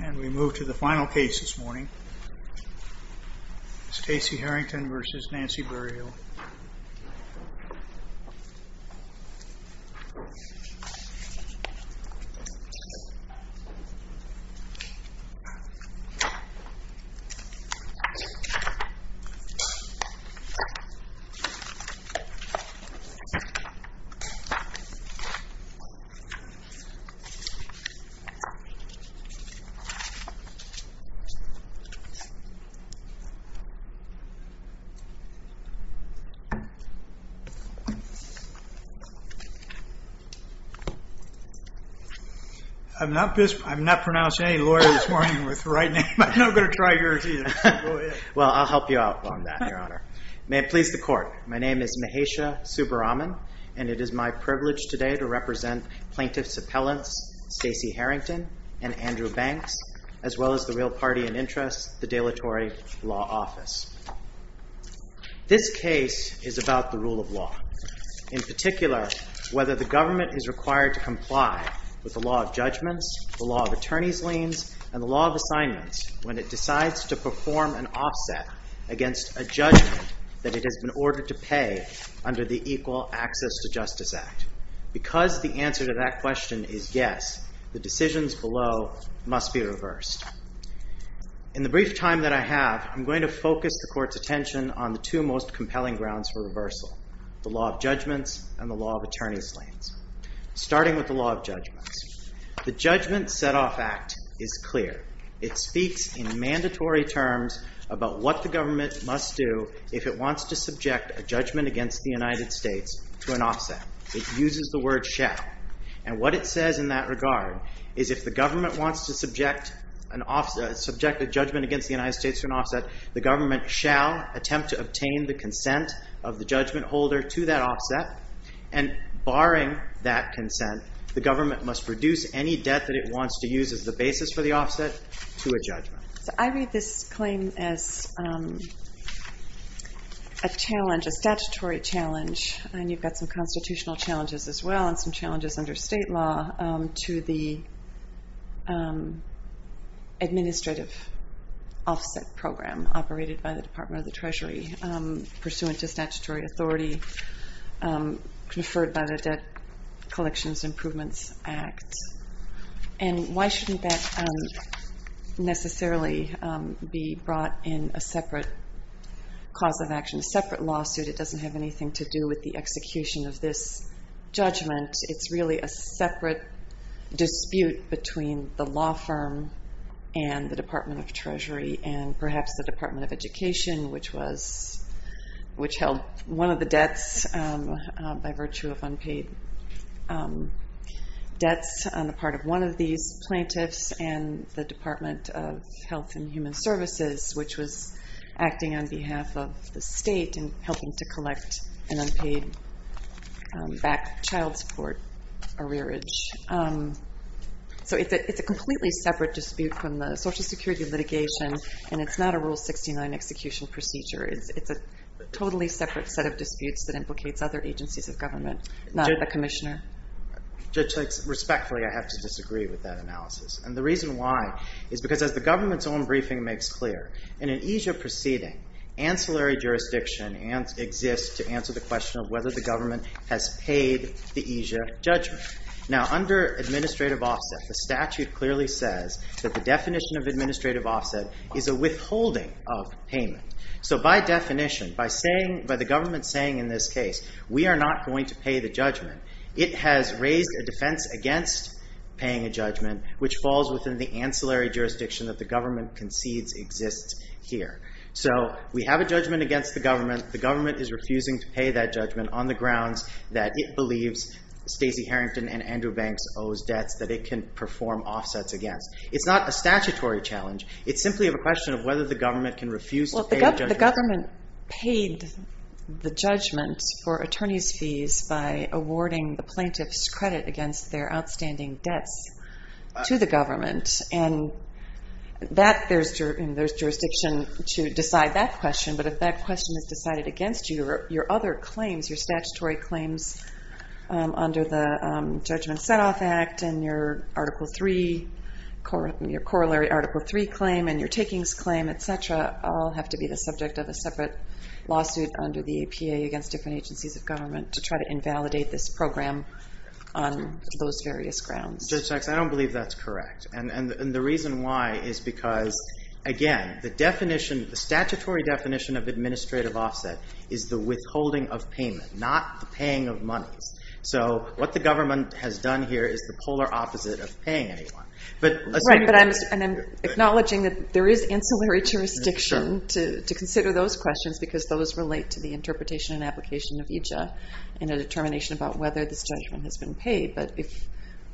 And we move to the final case this morning, Staci Harrington v. Nancy Berryhill. May it please the Court, my name is Mahesha Subbaraman and it is my privilege today to as well as the real party in interest, the Delatory Law Office. This case is about the rule of law. In particular, whether the government is required to comply with the law of judgments, the law of attorney's liens, and the law of assignments when it decides to perform an offset against a judgment that it has been ordered to pay under the Equal Access to Justice Act. Because the answer to that question is yes, the decisions below must be reversed. In the brief time that I have, I'm going to focus the Court's attention on the two most compelling grounds for reversal, the law of judgments and the law of attorney's liens. Starting with the law of judgments, the Judgment Setoff Act is clear. It speaks in mandatory terms about what the government must do if it wants to subject a judgment against the United States to an offset. It uses the word shall. And what it says in that regard is if the government wants to subject a judgment against the United States to an offset, the government shall attempt to obtain the consent of the judgment holder to that offset. And barring that consent, the government must reduce any debt that it wants to use as the basis for the offset to a judgment. I read this claim as a statutory challenge, and you've got some constitutional challenges as well and some challenges under state law, to the administrative offset program operated by the Department of the Treasury pursuant to statutory authority conferred by the Debt Regulation. It doesn't necessarily be brought in a separate cause of action, a separate lawsuit. It doesn't have anything to do with the execution of this judgment. It's really a separate dispute between the law firm and the Department of Treasury and perhaps the Department of Education, which held one of the debts by virtue of unpaid debts on the one of these plaintiffs and the Department of Health and Human Services, which was acting on behalf of the state in helping to collect an unpaid back child support arrearage. So it's a completely separate dispute from the Social Security litigation, and it's not a Rule 69 execution procedure. It's a totally separate set of disputes that implicates other agencies of government, not the commissioner. Judge Lakes, respectfully, I have to disagree with that analysis, and the reason why is because as the government's own briefing makes clear, in an EASA proceeding, ancillary jurisdiction exists to answer the question of whether the government has paid the EASA judgment. Now, under administrative offset, the statute clearly says that the definition of administrative offset is a withholding of payment. So by definition, by the government saying in this case, we are not going to pay the judgment, it has raised a defense against paying a judgment, which falls within the ancillary jurisdiction that the government concedes exists here. So we have a judgment against the government. The government is refusing to pay that judgment on the grounds that it believes Stacey Harrington and Andrew Banks owes debts that it can perform offsets against. It's not a statutory challenge. It's simply a question of whether the government can refuse to pay the judgment. If the government paid the judgment for attorney's fees by awarding the plaintiff's credit against their outstanding debts to the government, and there's jurisdiction to decide that question, but if that question is decided against you, your other claims, your statutory claims under the Judgment Setoff Act and your Article III, your corollary Article III claim and your subject of a separate lawsuit under the APA against different agencies of government to try to invalidate this program on those various grounds. Judge Sexton, I don't believe that's correct. And the reason why is because, again, the definition, the statutory definition of administrative offset is the withholding of payment, not the paying of monies. So what the government has done here is the polar opposite of paying anyone. Right, but I'm acknowledging that there is ancillary jurisdiction to consider those questions because those relate to the interpretation and application of EJA and a determination about whether this judgment has been paid. But if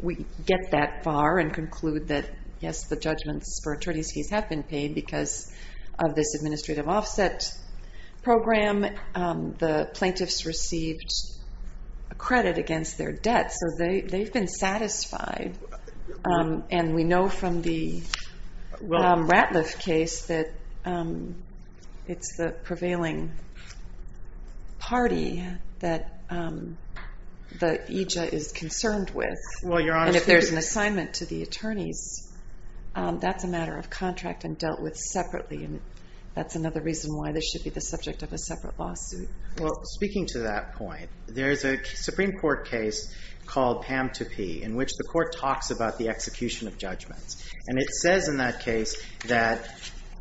we get that far and conclude that yes, the judgments for attorney's fees have been paid because of this administrative offset program, the plaintiffs received a credit against their debt. So they've been satisfied and we know from the Ratliff case that it's the prevailing party that EJA is concerned with. And if there's an assignment to the attorneys, that's a matter of contract and dealt with separately. And that's another reason why this should be the subject of a separate lawsuit. Well, speaking to that point, there's a Supreme Court case called PAMTP in which the court talks about the execution of judgments. And it says in that case that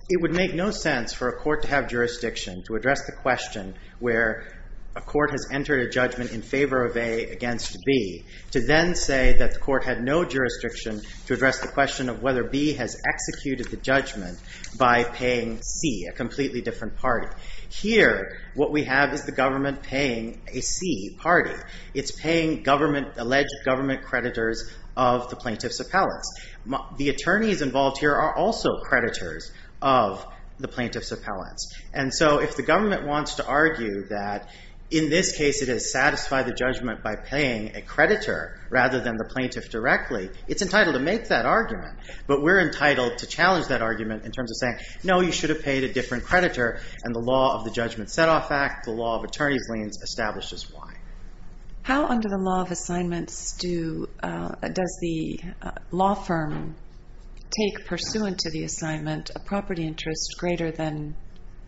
it would make no sense for a court to have jurisdiction to address the question where a court has entered a judgment in favor of A against B to then say that the court had no jurisdiction to address the question of whether B has executed the judgment by paying C, a completely different party. Here, what we have is the government paying a C party. It's paying government, alleged government creditors of the plaintiff's appellants. The attorneys involved here are also creditors of the plaintiff's appellants. And so if the government wants to argue that in this case it has satisfied the judgment by paying a creditor rather than the plaintiff directly, it's entitled to make that argument. But we're entitled to challenge that argument in terms of saying, no, you should have paid a different creditor. And the law of the Judgment Setoff Act, the law of attorney's liens, establishes why. How under the law of assignments does the law firm take pursuant to the assignment a property interest greater than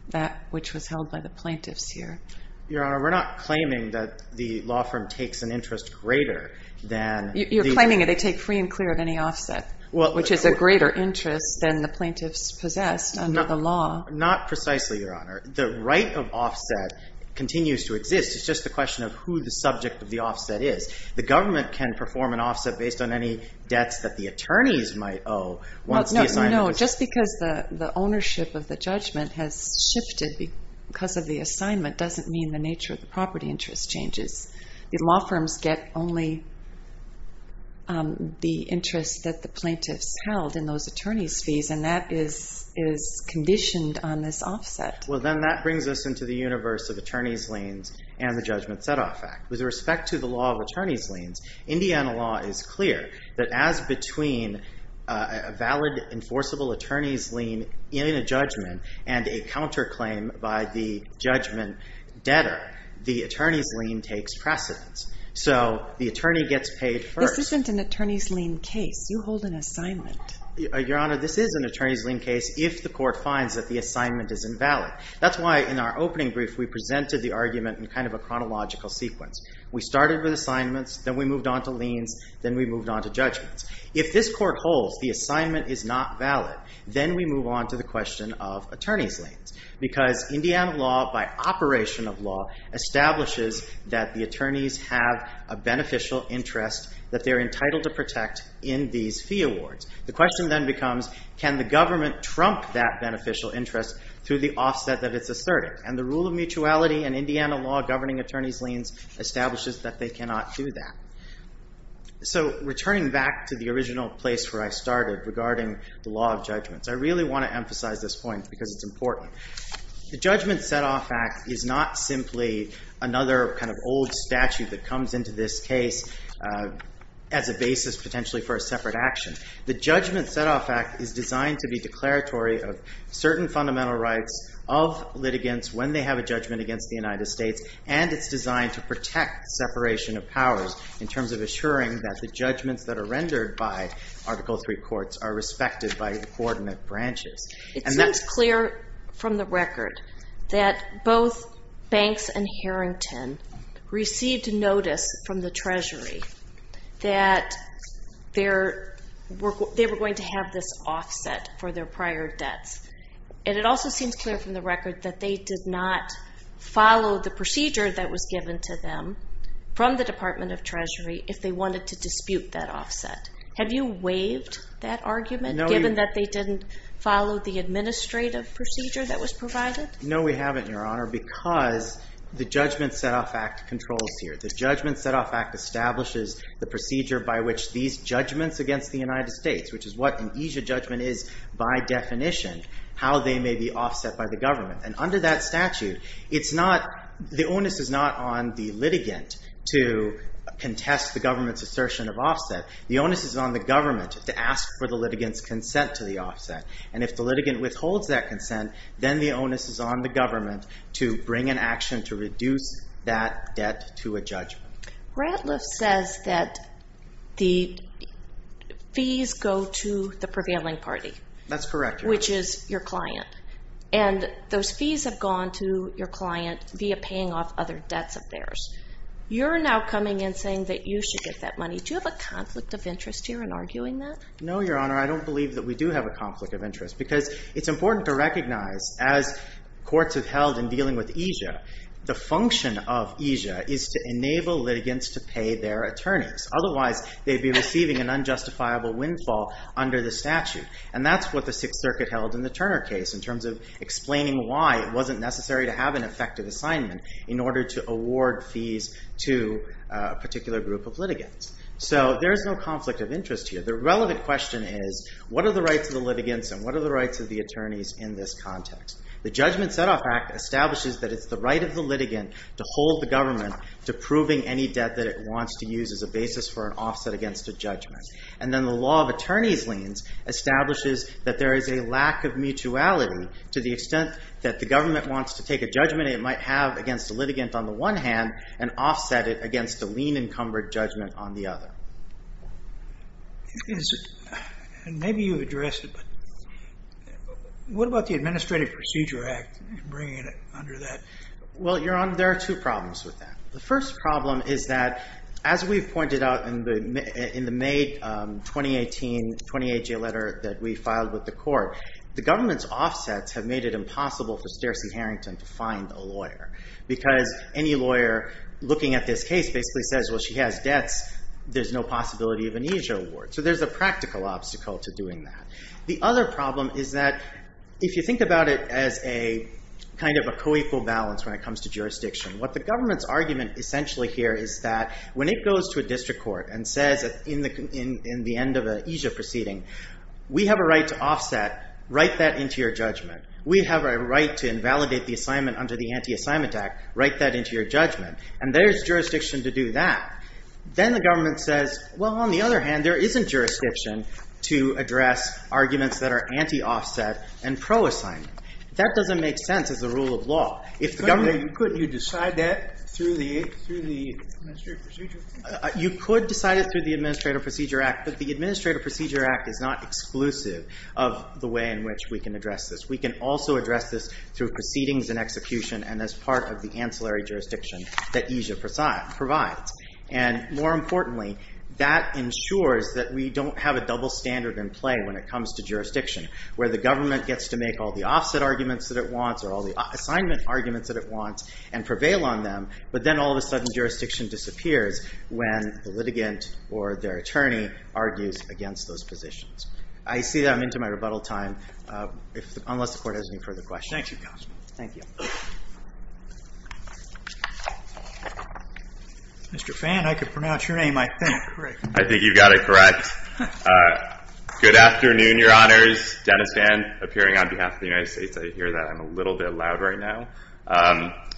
that which was held by the plaintiffs here? Your Honor, we're not claiming that the law firm takes an interest greater than... You're claiming that they take free and clear of any offset, which is a greater interest than the plaintiffs possessed under the law. Not precisely, Your Honor. The right of offset continues to exist. It's just a question of who the subject of the offset is. The government can perform an offset based on any debts that the attorneys might owe once the assignment is... No, just because the ownership of the judgment has shifted because of the assignment doesn't mean the nature of the property interest changes. The law firms get only the interest that the Well, then that brings us into the universe of attorney's liens and the Judgment Setoff Act. With respect to the law of attorney's liens, Indiana law is clear that as between a valid, enforceable attorney's lien in a judgment and a counterclaim by the judgment debtor, the attorney's lien takes precedence. So the attorney gets paid first. This isn't an attorney's lien case. You hold an assignment. Your Honor, this is an attorney's lien case if the court finds that the assignment is invalid. That's why in our opening brief we presented the argument in kind of a chronological sequence. We started with assignments, then we moved on to liens, then we moved on to judgments. If this court holds the assignment is not valid, then we move on to the question of attorney's liens. Because Indiana law, by operation of law, establishes that the attorneys have a beneficial interest that they're entitled to protect in these fee awards. The question then becomes, can the government trump that beneficial interest through the offset that it's asserted? And the rule of mutuality and Indiana law governing attorney's liens establishes that they cannot do that. So returning back to the original place where I started regarding the law of judgments, I really want to emphasize this point because it's important. The Judgment Setoff Act is not simply another kind of old statute that is designed to be declaratory of certain fundamental rights of litigants when they have a judgment against the United States, and it's designed to protect separation of powers in terms of assuring that the judgments that are rendered by Article III courts are respected by coordinate branches. It seems clear from the record that both Banks and Harrington received notice from the Treasury that they were going to have this offset for their prior debts, and it also seems clear from the record that they did not follow the procedure that was given to them from the Department of Treasury if they wanted to dispute that offset. Have you waived that argument, given that they didn't follow the administrative procedure that was provided? No, we haven't, Your Honor, because the Judgment Setoff Act controls here. The Judgment Setoff Act establishes the procedure by which these judgments against the United States, which is what an EASA judgment is by definition, how they may be offset by the government. And under that statute, it's not, the onus is not on the litigant to contest the government's assertion of offset. The onus is on the government to ask for the litigant's consent to the offset, and if the onus is on the government to bring an action to reduce that debt to a judgment. Ratliff says that the fees go to the prevailing party. That's correct. Which is your client, and those fees have gone to your client via paying off other debts of theirs. You're now coming in saying that you should get that money. Do you have a conflict of interest here in arguing that? No, Your Honor, I don't believe that we do have a conflict of interest, because it's important to recognize, as courts have held in dealing with EASA, the function of EASA is to enable litigants to pay their attorneys. Otherwise, they'd be receiving an unjustifiable windfall under the statute. And that's what the Sixth Circuit held in the Turner case, in terms of explaining why it wasn't necessary to have an effective assignment in order to award fees to a particular group of litigants. So there is no conflict of interest here. The relevant question is, what are the rights of the litigants, and what are the rights of the attorneys in this context? The Judgment Setoff Act establishes that it's the right of the litigant to hold the government to proving any debt that it wants to use as a basis for an offset against a judgment. And then the law of attorneys' liens establishes that there is a lack of mutuality to the extent that the government wants to take a judgment it might have against a litigant on the one hand, and offset it against a lien-encumbered judgment on the other. And maybe you've addressed it, but what about the Administrative Procedure Act and bringing it under that? Well, Your Honor, there are two problems with that. The first problem is that, as we've pointed out in the May 2018, 28-J letter that we filed with the court, the government's offsets have made it impossible for Stacey Harrington to find a lawyer. Because any lawyer looking at this case basically says, well, she has debts, there's no possibility of an EASA award. So there's a practical obstacle to doing that. The other problem is that if you think about it as a kind of a co-equal balance when it comes to jurisdiction, what the government's argument essentially here is that when it goes to a district court and says in the end of an EASA proceeding, we have a right to offset, write that into your judgment. We have a right to invalidate the assignment under the Anti-Assignment Act, write that into your judgment. And there's jurisdiction to do that. Then the government says, well, on the other hand, there isn't jurisdiction to address arguments that are anti-offset and pro-assignment. That doesn't make sense as a rule of law. If the government... Couldn't you decide that through the Administrative Procedure Act? You could decide it through the Administrative Procedure Act, but the Administrative Procedure Act is not exclusive of the way in which we can address this. We can also address this through proceedings and execution and as part of the ancillary jurisdiction that EASA provides. And more importantly, that ensures that we don't have a double standard in play when it comes to jurisdiction, where the government gets to make all the offset arguments that it wants or all the assignment arguments that it wants and prevail on them, but then all of a sudden jurisdiction disappears when the litigant or their attorney argues against those positions. I see that I'm into my rebuttal time, unless the Court has any further questions. Thank you, Counselor. Thank you. Mr. Fan, I could pronounce your name, I think, correct? I think you got it correct. Good afternoon, Your Honors. Dennis Fan, appearing on behalf of the United States. I hear that I'm a little bit loud right now.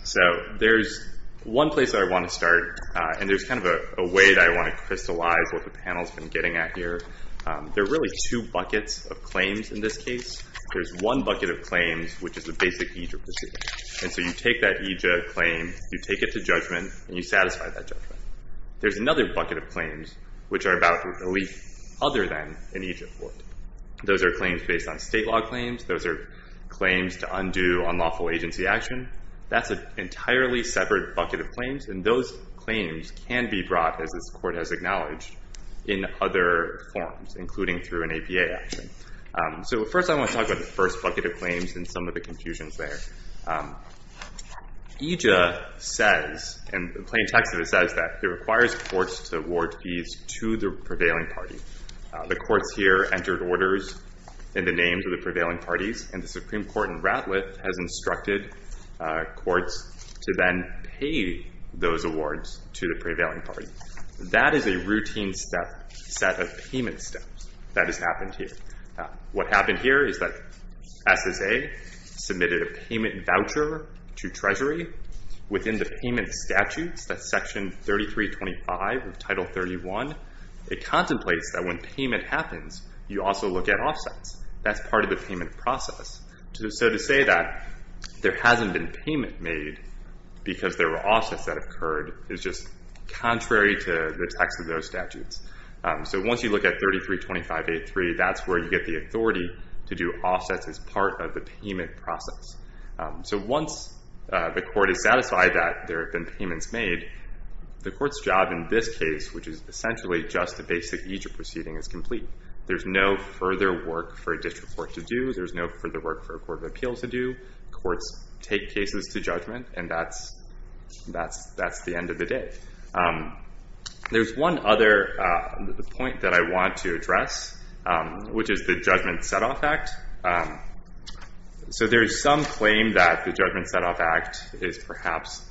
So there's one place that I want to start, and there's kind of a way that I want to crystallize what the panel's been getting at here. There are really two buckets of claims in this case. There's one bucket of claims, which is the basic EJIA procedure. And so you take that EJIA claim, you take it to judgment, and you satisfy that judgment. There's another bucket of claims, which are about a relief other than an EJIA court. Those are claims based on state law claims. Those are claims to undo unlawful agency action. That's an entirely separate bucket of claims, and those claims can be brought, as this court has acknowledged, in other forms, including through an APA action. So first, I want to talk about the first bucket of claims and some of the confusions there. EJIA says, and the plain text of it says that it requires courts to award fees to the prevailing party. The courts here entered orders in the names of the prevailing parties, and the Supreme Court has instructed courts to then pay those awards to the prevailing party. That is a routine set of payment steps that has happened here. What happened here is that SSA submitted a payment voucher to Treasury within the payment statutes, that's Section 3325 of Title 31. It contemplates that when payment happens, you also look at offsets. That's part of the payment process. So to say that there hasn't been payment made because there were offsets that occurred is just contrary to the text of those statutes. So once you look at 3325.83, that's where you get the authority to do offsets as part of the payment process. So once the court is satisfied that there have been payments made, the court's job in this case, which is essentially just a basic procedure proceeding, is complete. There's no further work for a district court to do. There's no further work for a court of appeals to do. Courts take cases to judgment, and that's the end of the day. There's one other point that I want to address, which is the Judgment Setoff Act. So there is some claim that the Judgment Setoff Act is perhaps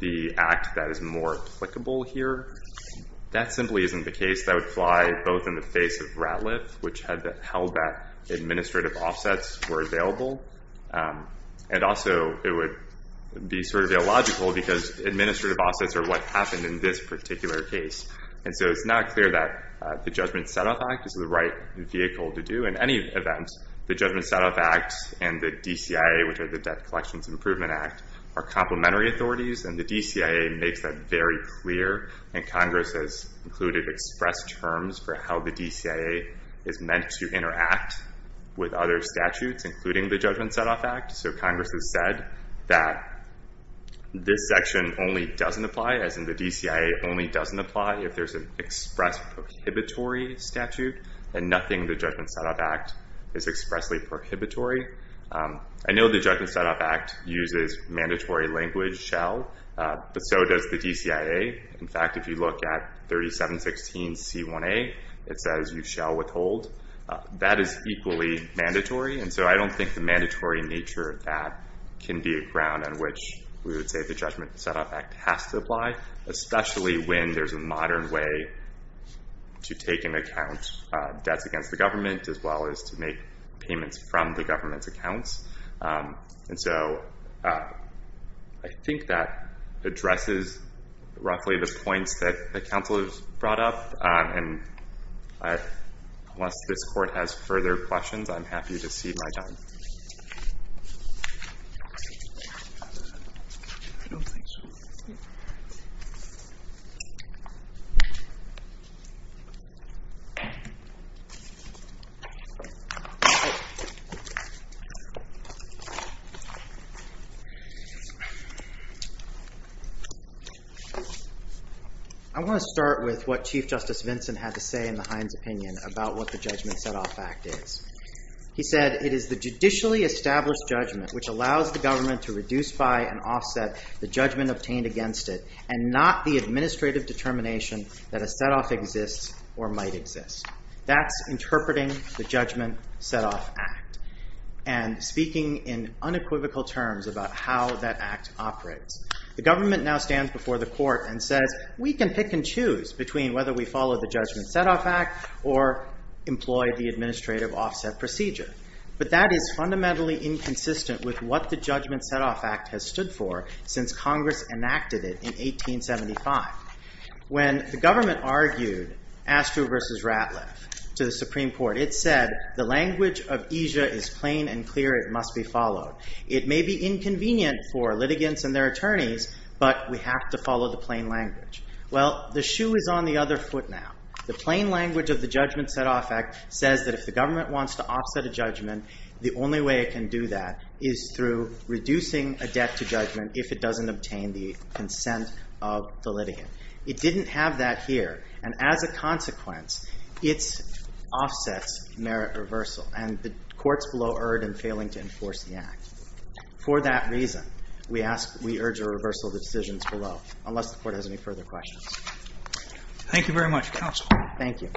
the act that is more applicable here. That simply isn't the case. That would fly both in the face of RATLF, which held that administrative offsets were available, and also it would be sort of illogical because administrative offsets are what happened in this particular case. And so it's not clear that the Judgment Setoff Act is the right vehicle to do. In any event, the Judgment Setoff Act and the DCIA, which are the Debt Collections Improvement Act, are complementary authorities, and the DCIA makes that very clear. And Congress has included express terms for how the DCIA is meant to interact with other statutes, including the Judgment Setoff Act. So Congress has said that this section only doesn't apply, as in the DCIA only doesn't apply if there's an express prohibitory statute, and nothing in the Judgment Setoff Act is expressly prohibitory. I know the DCIA. In fact, if you look at 3716C1A, it says you shall withhold. That is equally mandatory, and so I don't think the mandatory nature of that can be a ground on which we would say the Judgment Setoff Act has to apply, especially when there's a modern way to take into account debts against the government, as well as to make payments from the government's accounts. And so I think that addresses roughly the points that the Counselors brought up, and unless this Court has further questions, I'm happy to see my time. I want to start with what Chief Justice Vinson had to say in the Heinz opinion about what the Judgment Setoff Act is. He said, it is the judicially established judgment which allows the government to reduce by and offset the judgment obtained against it, and not the administrative determination that a setoff exists or might exist. That's interpreting the Judgment in unequivocal terms about how that act operates. The government now stands before the Court and says, we can pick and choose between whether we follow the Judgment Setoff Act or employ the administrative offset procedure. But that is fundamentally inconsistent with what the Judgment Setoff Act has stood for since Congress enacted it in 1875. When the government argued Astru versus Ratliff to the Supreme Court, it said, the language of Asia is plain and clear. It must be followed. It may be inconvenient for litigants and their attorneys, but we have to follow the plain language. Well, the shoe is on the other foot now. The plain language of the Judgment Setoff Act says that if the government wants to offset a judgment, the only way it can do that is through reducing a debt to judgment if it doesn't obtain the consent of the litigant. It didn't have that here, and as a consequence, it offsets merit reversal, and the courts below erred in failing to enforce the Act. For that reason, we urge a reversal of the decisions below, unless the Court has any further questions. Thank you very much, Counsel. Thank you.